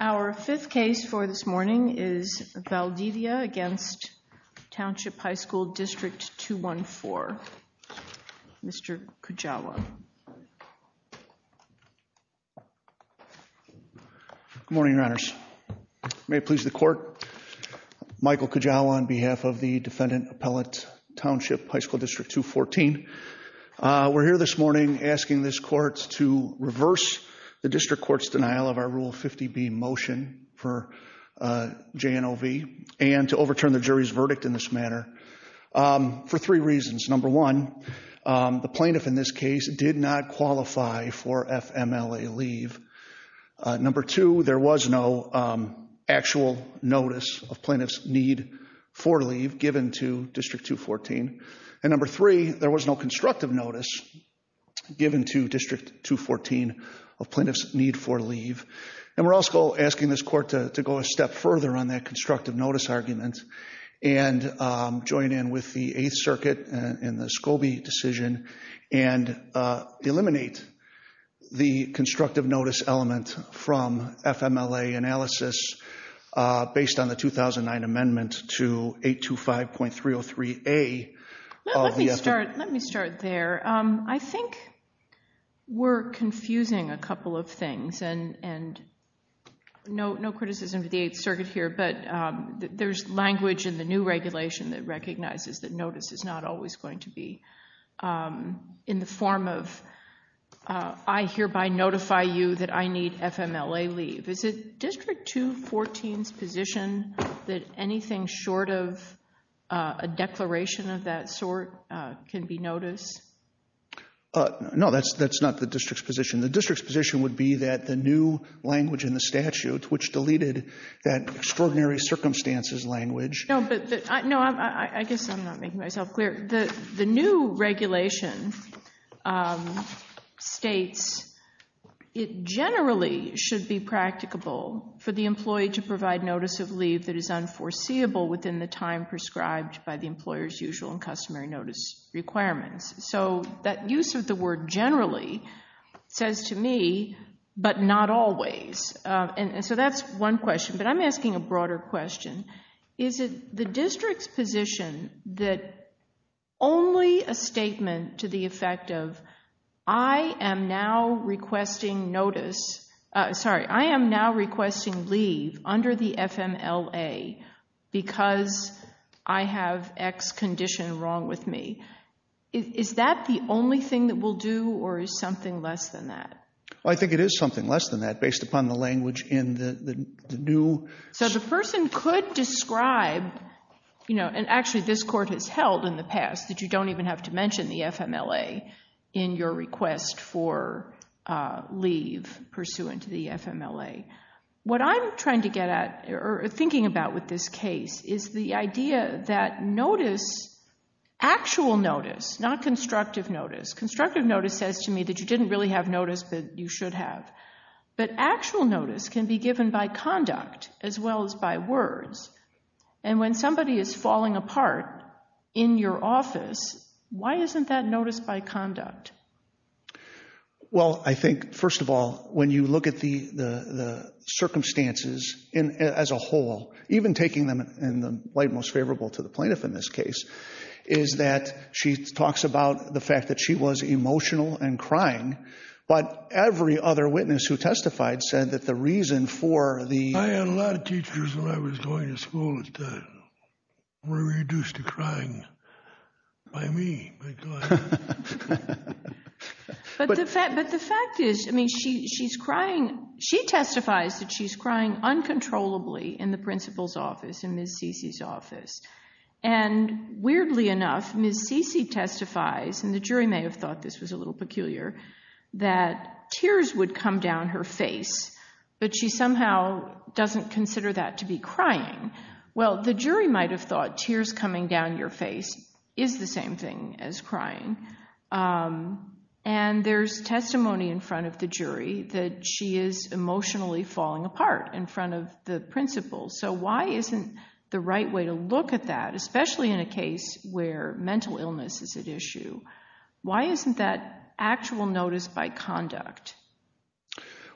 Our fifth case for this morning is Valdivia v. Township High School District 214. Mr. Good morning, your honors. May it please the court, Michael Kajawa on behalf of the defendant, Appellate Township High School District 214. We're here this morning asking this court to reverse the district court's denial of our Rule 50B motion for JNOV and to overturn the jury's verdict in this manner for three reasons. Number one, the plaintiff in this case did not qualify for FMLA leave. Number two, there was no actual notice of plaintiff's need for leave given to District 214. And number three, there was no constructive notice given to District 214 of plaintiff's need for leave. And we're also asking this court to go a step further on that constructive notice argument and join in with the Eighth Circuit and the Scobie decision and eliminate the constructive notice element from FMLA analysis based on the 2009 amendment to 825.303A of the FMLA. Let me start there. I think we're confusing a couple of things and no criticism of the Eighth Circuit here, but there's language in the new regulation that recognizes that notice is not always going to be in the form of, I hereby notify you that I need FMLA leave. Is it District 214's position that anything short of a declaration of that sort can be notice? No, that's not the district's position. The district's position would be that the new language in the statute, which deleted that extraordinary circumstances language. No, I guess I'm not making myself clear. The new regulation states it generally should be practicable for the employee to provide notice of leave that is unforeseeable within the time prescribed by the employer's usual and customary notice requirements. That use of the word generally says to me, but not always. That's one question, but I'm asking a broader question. Is it the district's position that only a statement to the effect of, I am now requesting leave under the FMLA because I have X condition wrong with me. Is that the only thing that we'll do or is something less than that? I think it is something less than that based upon the language in the new. Not constructive notice. Constructive notice says to me that you didn't really have notice that you should have. But actual notice can be given by conduct as well as by words. And when somebody is falling apart in your office, why isn't that notice by conduct? Well, I think, first of all, when you look at the circumstances as a whole, even taking them in the light most favorable to the plaintiff in this case, is that she talks about the fact that she was emotional and crying. But every other witness who testified said that the reason for the... I had a lot of teachers when I was going to school that were reduced to crying by me. But the fact is, I mean, she's crying. She testifies that she's crying uncontrollably in the principal's office and Ms. Cece's office. And weirdly enough, Ms. Cece testifies, and the jury may have thought this was a little peculiar, that tears would come down her face, but she somehow doesn't consider that to be crying. Well, the jury might have thought tears coming down your face is the same thing as crying. And there's testimony in front of the jury that she is emotionally falling apart in front of the principal. So why isn't the right way to look at that, especially in a case where mental illness is at issue, why isn't that actual notice by conduct?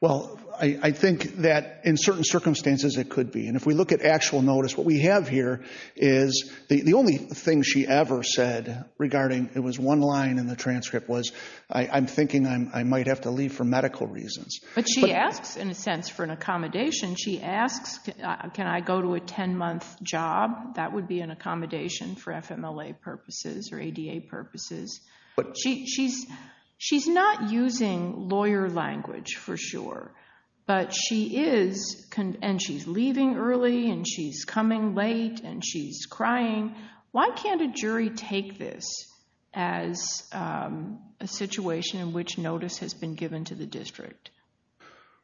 Well, I think that in certain circumstances it could be. And if we look at actual notice, what we have here is the only thing she ever said regarding... It was one line in the transcript was, I'm thinking I might have to leave for medical reasons. But she asks, in a sense, for an accommodation. She asks, can I go to a 10-month job? That would be an accommodation for FMLA purposes or ADA purposes. She's not using lawyer language for sure, but she is, and she's leaving early and she's coming late and she's crying. Why can't a jury take this as a situation in which notice has been given to the district?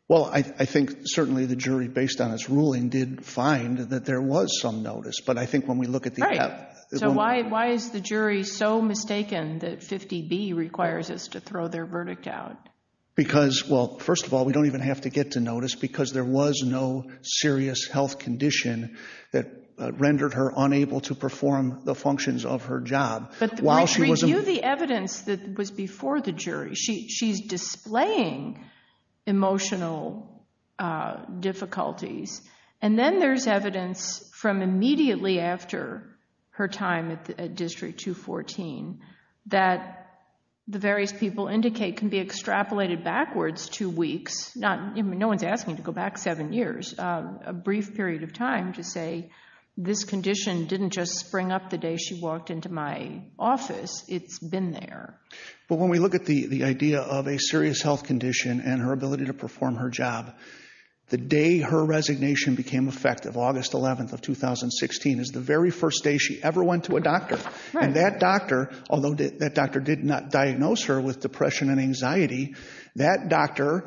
Well, I think certainly the jury, based on its ruling, did find that there was some notice. Right. So why is the jury so mistaken that 50B requires us to throw their verdict out? Because, well, first of all, we don't even have to get to notice because there was no serious health condition that rendered her unable to perform the functions of her job. But we preview the evidence that was before the jury. She's displaying emotional difficulties. And then there's evidence from immediately after her time at District 214 that the various people indicate can be extrapolated backwards two weeks. No one's asking to go back seven years, a brief period of time to say this condition didn't just spring up the day she walked into my office, it's been there. But when we look at the idea of a serious health condition and her ability to perform her job, the day her resignation became effective, August 11th of 2016, is the very first day she ever went to a doctor. And that doctor, although that doctor did not diagnose her with depression and anxiety, that doctor...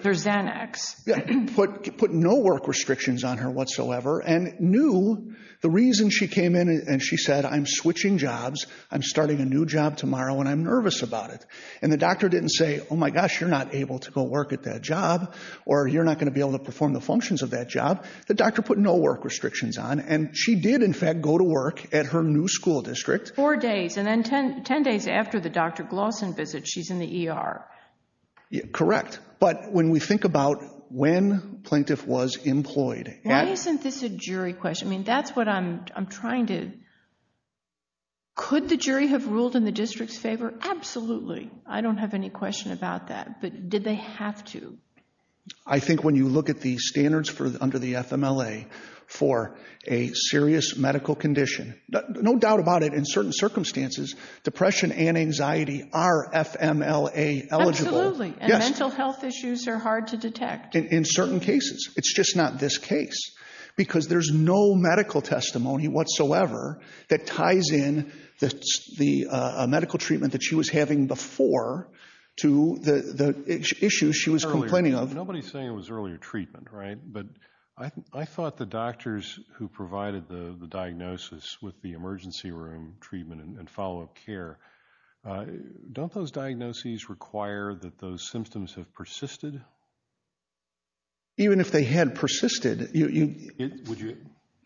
...put no work restrictions on her whatsoever and knew the reason she came in and she said, I'm switching jobs, I'm starting a new job tomorrow, and I'm nervous about it. And the doctor didn't say, oh, my gosh, you're not able to go work at that job or you're not going to be able to perform the functions of that job. The doctor put no work restrictions on and she did, in fact, go to work at her new school district. Four days and then 10 days after the Dr. Glawson visit, she's in the ER. Correct. But when we think about when Plaintiff was employed... Why isn't this a jury question? I mean, that's what I'm trying to... Could the jury have ruled in the district's favor? Absolutely. I don't have any question about that. But did they have to? I think when you look at the standards under the FMLA for a serious medical condition, no doubt about it, in certain circumstances, depression and anxiety are FMLA eligible. Absolutely. And mental health issues are hard to detect. In certain cases. It's just not this case. Because there's no medical testimony whatsoever that ties in the medical treatment that she was having before to the issues she was complaining of. Nobody's saying it was earlier treatment, right? But I thought the doctors who provided the diagnosis with the emergency room treatment and follow-up care, don't those diagnoses require that those symptoms have persisted? Even if they had persisted...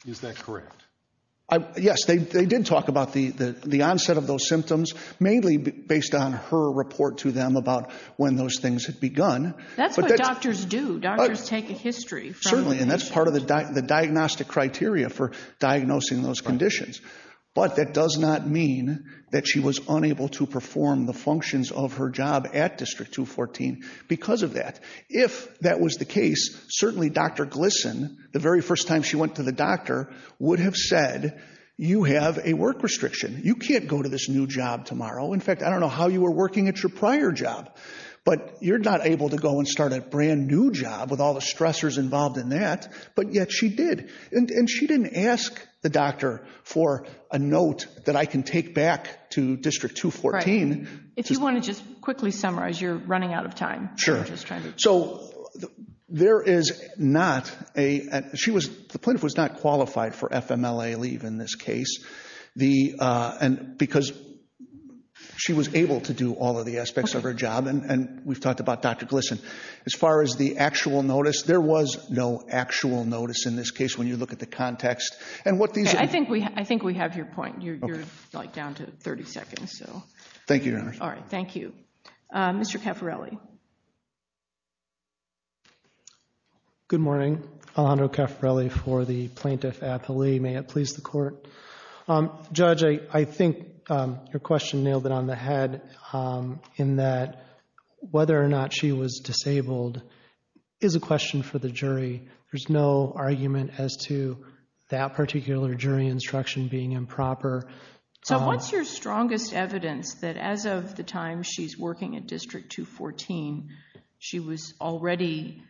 Is that correct? Yes, they did talk about the onset of those symptoms, mainly based on her report to them about when those things had begun. That's what doctors do. Doctors take a history. Certainly, and that's part of the diagnostic criteria for diagnosing those conditions. But that does not mean that she was unable to perform the functions of her job at District 214 because of that. If that was the case, certainly Dr. Glisson, the very first time she went to the doctor, would have said, you have a work restriction. You can't go to this new job tomorrow. In fact, I don't know how you were working at your prior job, but you're not able to go and start a brand new job with all the stressors involved in that, but yet she did. And she didn't ask the doctor for a note that I can take back to District 214. If you want to just quickly summarize, you're running out of time. So the plaintiff was not qualified for FMLA leave in this case because she was able to do all of the aspects of her job. And we've talked about Dr. Glisson. As far as the actual notice, there was no actual notice in this case when you look at the context. I think we have your point. You're down to 30 seconds. Thank you, Your Honor. All right. Thank you. Mr. Caffarelli. Good morning. Alejandro Caffarelli for the Plaintiff's Appeal. May it please the Court. Judge, I think your question nailed it on the head in that whether or not she was disabled is a question for the jury. There's no argument as to that particular jury instruction being improper. So what's your strongest evidence that as of the time she's working at District 214, she was already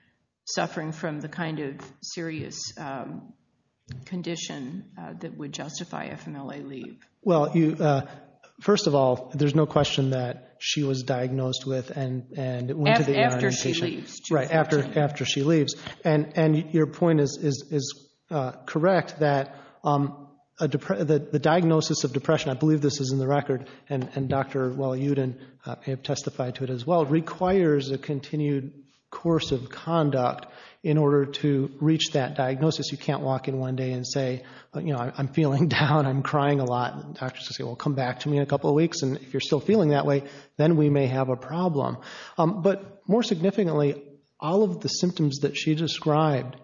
suffering from the kind of serious condition that would justify FMLA leave? Well, first of all, there's no question that she was diagnosed with and went to the ER. After she leaves. And your point is correct that the diagnosis of depression, I believe this is in the record, and Dr. Walyudin may have testified to it as well, requires a continued course of conduct in order to reach that diagnosis. You can't walk in one day and say, you know, I'm feeling down, I'm crying a lot. Doctors will say, well, come back to me in a couple of weeks. And if you're still feeling that way, then we may have a problem. But more significantly, all of the symptoms that she described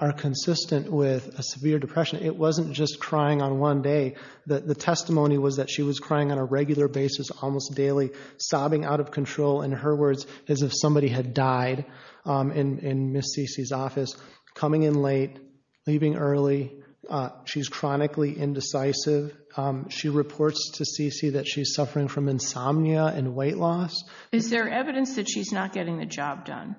are consistent with a severe depression. It wasn't just crying on one day. The testimony was that she was crying on a regular basis almost daily, sobbing out of control, in her words, as if somebody had died in Ms. Cece's office, coming in late, leaving early. She's chronically indecisive. She reports to Cece that she's suffering from insomnia and weight loss. Is there evidence that she's not getting the job done?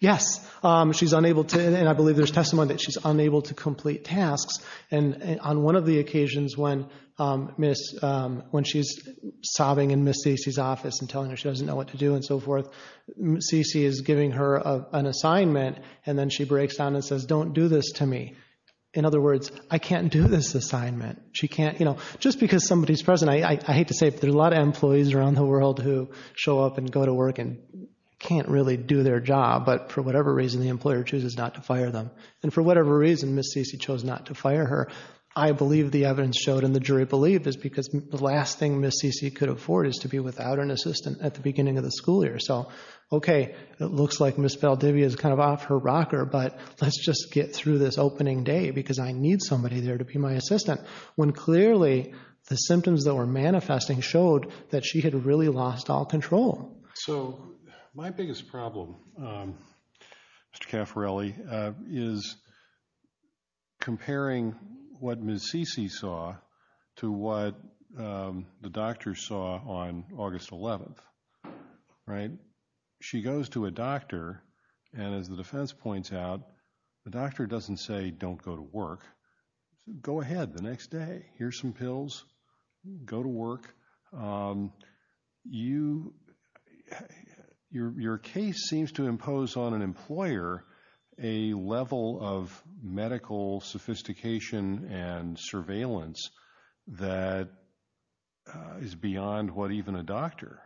Yes. She's unable to, and I believe there's testimony that she's unable to complete tasks. And on one of the occasions when she's sobbing in Ms. Cece's office and telling her she doesn't know what to do and so forth, Cece is giving her an assignment, and then she breaks down and says, don't do this to me. In other words, I can't do this assignment. She can't, you know, just because somebody's present, I hate to say it, but there are a lot of employees around the world who show up and go to work and can't really do their job. But for whatever reason, the employer chooses not to fire them. And for whatever reason, Ms. Cece chose not to fire her. I believe the evidence showed, and the jury believed, is because the last thing Ms. Cece could afford is to be without an assistant at the beginning of the school year. So okay, it looks like Ms. Valdivia is kind of off her rocker, but let's just get through this opening day because I need somebody there to be my assistant. When clearly the symptoms that were manifesting showed that she had really lost all control. So my biggest problem, Mr. Caffarelli, is comparing what Ms. Cece saw to what the doctor saw on August 11th. Right? She goes to a doctor, and as the defense points out, the doctor doesn't say, don't go to work. Go ahead the next day. Here's some pills. Go to work. Your case seems to impose on an employer a level of medical sophistication and surveillance that is beyond what even a doctor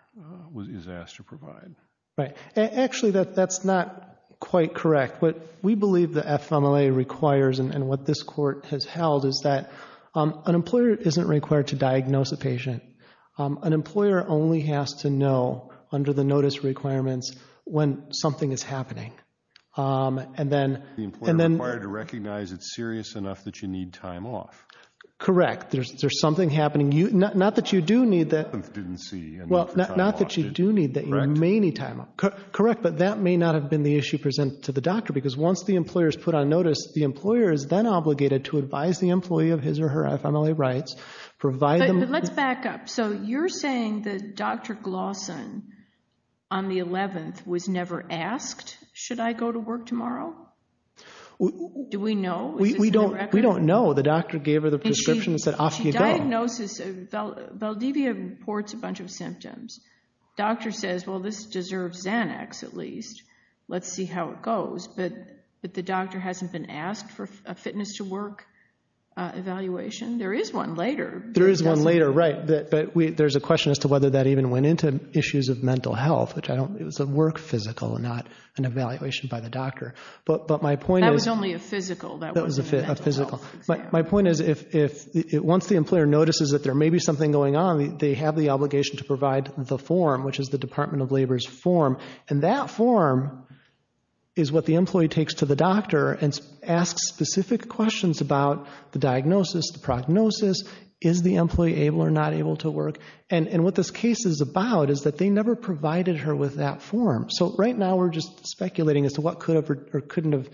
is asked to provide. Right. Actually, that's not quite correct. What we believe the FMLA requires and what this court has held is that an employer isn't required to diagnose a patient. An employer only has to know under the notice requirements when something is happening. The employer is required to recognize it's serious enough that you need time off. Correct. There's something happening. Not that you do need that. Well, not that you do need that. You may need time off. Correct. But that may not have been the issue presented to the doctor, because once the employer is put on notice, the employer is then obligated to advise the employee of his or her FMLA rights. Let's back up. So you're saying that Dr. Glawson on the 11th was never asked, should I go to work tomorrow? Do we know? We don't know. The doctor gave her the prescription and said, off you go. She diagnoses. Valdivia reports a bunch of symptoms. Doctor says, well, this deserves Xanax at least. Let's see how it goes. But the doctor hasn't been asked for a fitness to work evaluation. There is one later. There is one later, right. But there's a question as to whether that even went into issues of mental health. It was a work physical, not an evaluation by the doctor. That was only a physical. That was a physical. My point is, once the employer notices that there may be something going on, they have the obligation to provide the form, which is the Department of Labor's form. And that form is what the employee takes to the doctor and asks specific questions about the diagnosis, the prognosis, is the employee able or not able to work. And what this case is about is that they never provided her with that form. So right now we're just speculating as to what could have or couldn't have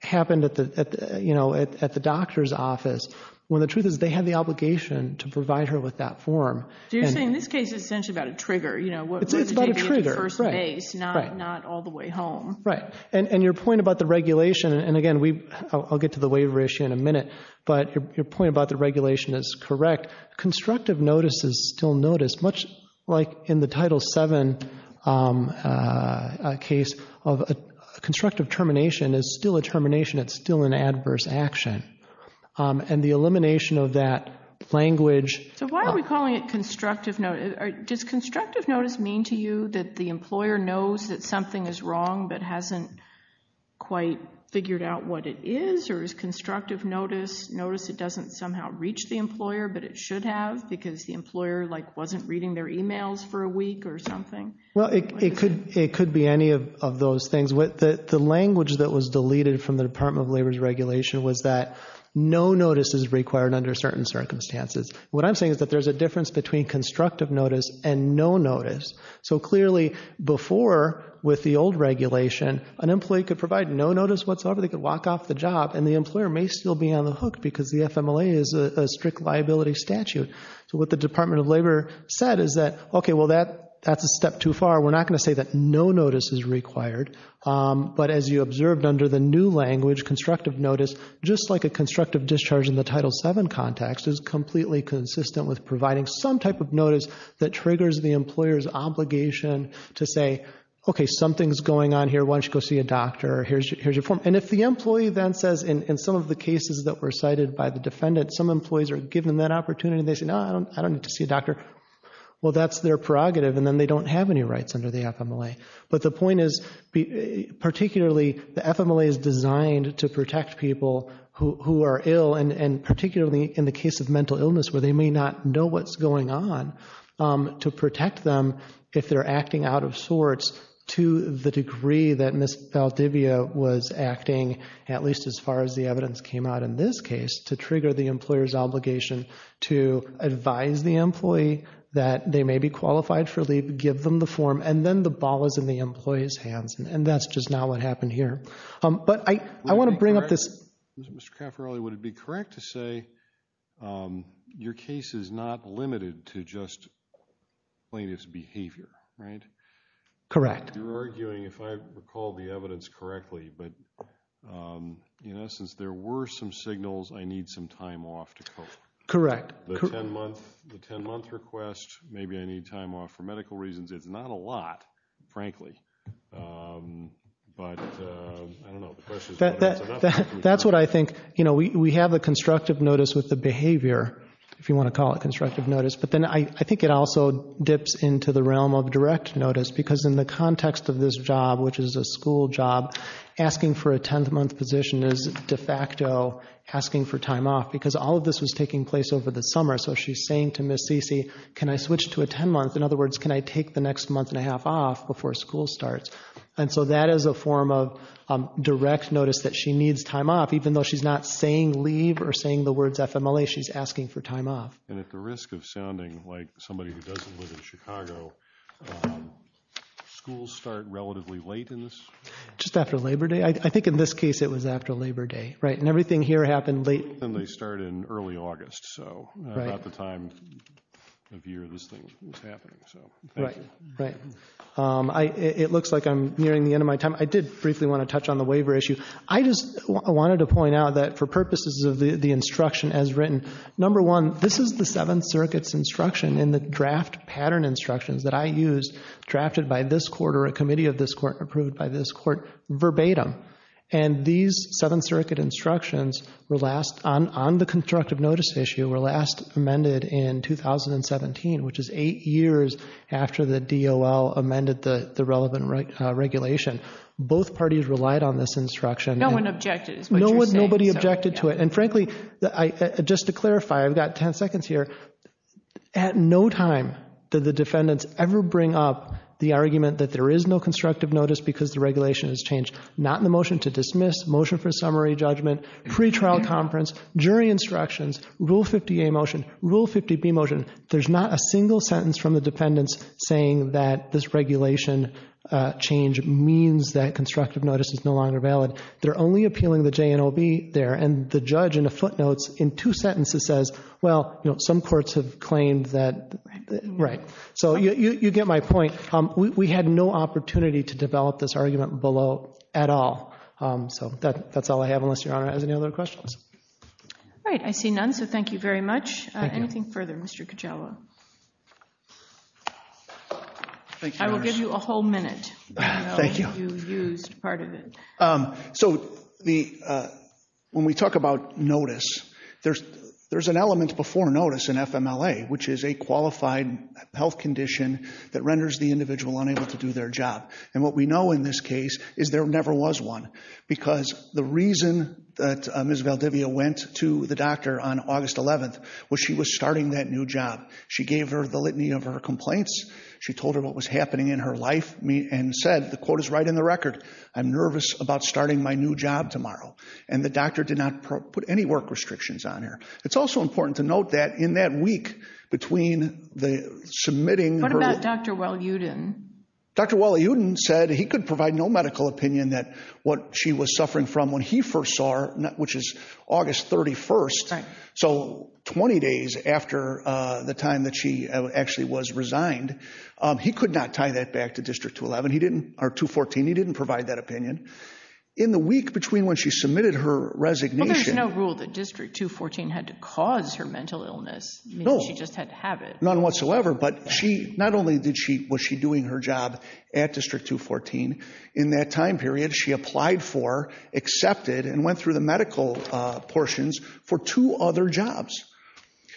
happened at the doctor's office, when the truth is they have the obligation to provide her with that form. So you're saying this case is essentially about a trigger. It's about a trigger. First base, not all the way home. Right. And your point about the regulation, and, again, I'll get to the waiver issue in a minute, but your point about the regulation is correct. Constructive notice is still noticed, much like in the Title VII case. Constructive termination is still a termination. It's still an adverse action. And the elimination of that language. So why are we calling it constructive notice? Does constructive notice mean to you that the employer knows that something is wrong but hasn't quite figured out what it is? Or is constructive notice notice it doesn't somehow reach the employer but it should have because the employer, like, wasn't reading their emails for a week or something? Well, it could be any of those things. The language that was deleted from the Department of Labor's regulation was that no notice is required under certain circumstances. What I'm saying is that there's a difference between constructive notice and no notice. So clearly before, with the old regulation, an employee could provide no notice whatsoever. They could walk off the job, and the employer may still be on the hook because the FMLA is a strict liability statute. So what the Department of Labor said is that, okay, well, that's a step too far. We're not going to say that no notice is required. But as you observed under the new language, constructive notice, just like a constructive discharge in the Title VII context, is completely consistent with providing some type of notice that triggers the employer's obligation to say, okay, something's going on here. Why don't you go see a doctor? Here's your form. And if the employee then says, in some of the cases that were cited by the defendant, some employees are given that opportunity. They say, no, I don't need to see a doctor. Well, that's their prerogative, and then they don't have any rights under the FMLA. But the point is, particularly the FMLA is designed to protect people who are ill, and particularly in the case of mental illness where they may not know what's going on, to protect them if they're acting out of sorts to the degree that Ms. Valdivia was acting, at least as far as the evidence came out in this case, to trigger the employer's obligation to advise the employee that they may be qualified for leave, give them the form, and then the ball is in the employee's hands. And that's just not what happened here. But I want to bring up this. Mr. Caffarelli, would it be correct to say your case is not limited to just plaintiff's behavior, right? Correct. You're arguing, if I recall the evidence correctly, but in essence, there were some signals, I need some time off to cope. Correct. The 10-month request, maybe I need time off for medical reasons. It's not a lot, frankly, but I don't know. That's what I think. We have the constructive notice with the behavior, if you want to call it constructive notice, but then I think it also dips into the realm of direct notice because in the context of this job, which is a school job, asking for a 10-month position is de facto asking for time off because all of this was taking place over the summer. So she's saying to Ms. Cece, can I switch to a 10-month? In other words, can I take the next month and a half off before school starts? And so that is a form of direct notice that she needs time off, even though she's not saying leave or saying the words FMLA, she's asking for time off. And at the risk of sounding like somebody who doesn't live in Chicago, schools start relatively late in this? Just after Labor Day. I think in this case it was after Labor Day. Right, and everything here happened late. And they start in early August, so about the time of year this thing was happening. Right, right. It looks like I'm nearing the end of my time. I did briefly want to touch on the waiver issue. I just wanted to point out that for purposes of the instruction as written, number one, this is the Seventh Circuit's instruction in the draft pattern instructions that I used, drafted by this court or a committee of this court, approved by this court verbatim. And these Seventh Circuit instructions were last on the constructive notice issue were last amended in 2017, which is eight years after the DOL amended the relevant regulation. Both parties relied on this instruction. No one objected is what you're saying. Nobody objected to it. And, frankly, just to clarify, I've got ten seconds here. At no time did the defendants ever bring up the argument that there is no constructive notice because the regulation has changed. Not in the motion to dismiss, motion for summary judgment, pretrial conference, jury instructions, Rule 50A motion, Rule 50B motion. There's not a single sentence from the defendants saying that this regulation change means that constructive notice is no longer valid. They're only appealing the JNOB there. And the judge in the footnotes in two sentences says, well, you know, some courts have claimed that. Right. Right. So you get my point. We had no opportunity to develop this argument below at all. So that's all I have unless Your Honor has any other questions. All right. I see none, so thank you very much. Thank you. Anything further, Mr. Kujawa? I will give you a whole minute. Thank you. So when we talk about notice, there's an element before notice in FMLA, which is a qualified health condition that renders the individual unable to do their job. And what we know in this case is there never was one because the reason that Ms. Valdivia went to the doctor on August 11th was she was starting that new job. She gave her the litany of her complaints. She told her what was happening in her life and said, the quote is right in the record, I'm nervous about starting my new job tomorrow. And the doctor did not put any work restrictions on her. It's also important to note that in that week between the submitting. What about Dr. Walyudin? Dr. Walyudin said he could provide no medical opinion that what she was suffering from when he first saw her, which is August 31st. Right. So 20 days after the time that she actually was resigned, he could not tie that back to District 211 or 214. He didn't provide that opinion. In the week between when she submitted her resignation. Well, there's no rule that District 214 had to cause her mental illness. No. She just had to have it. None whatsoever. But not only was she doing her job at District 214, in that time period she applied for, accepted, and went through the medical portions for two other jobs.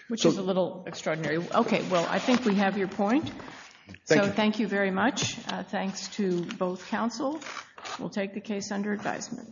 Which is a little extraordinary. Okay. Well, I think we have your point. So thank you very much. Thanks to both counsel. We'll take the case under advisement.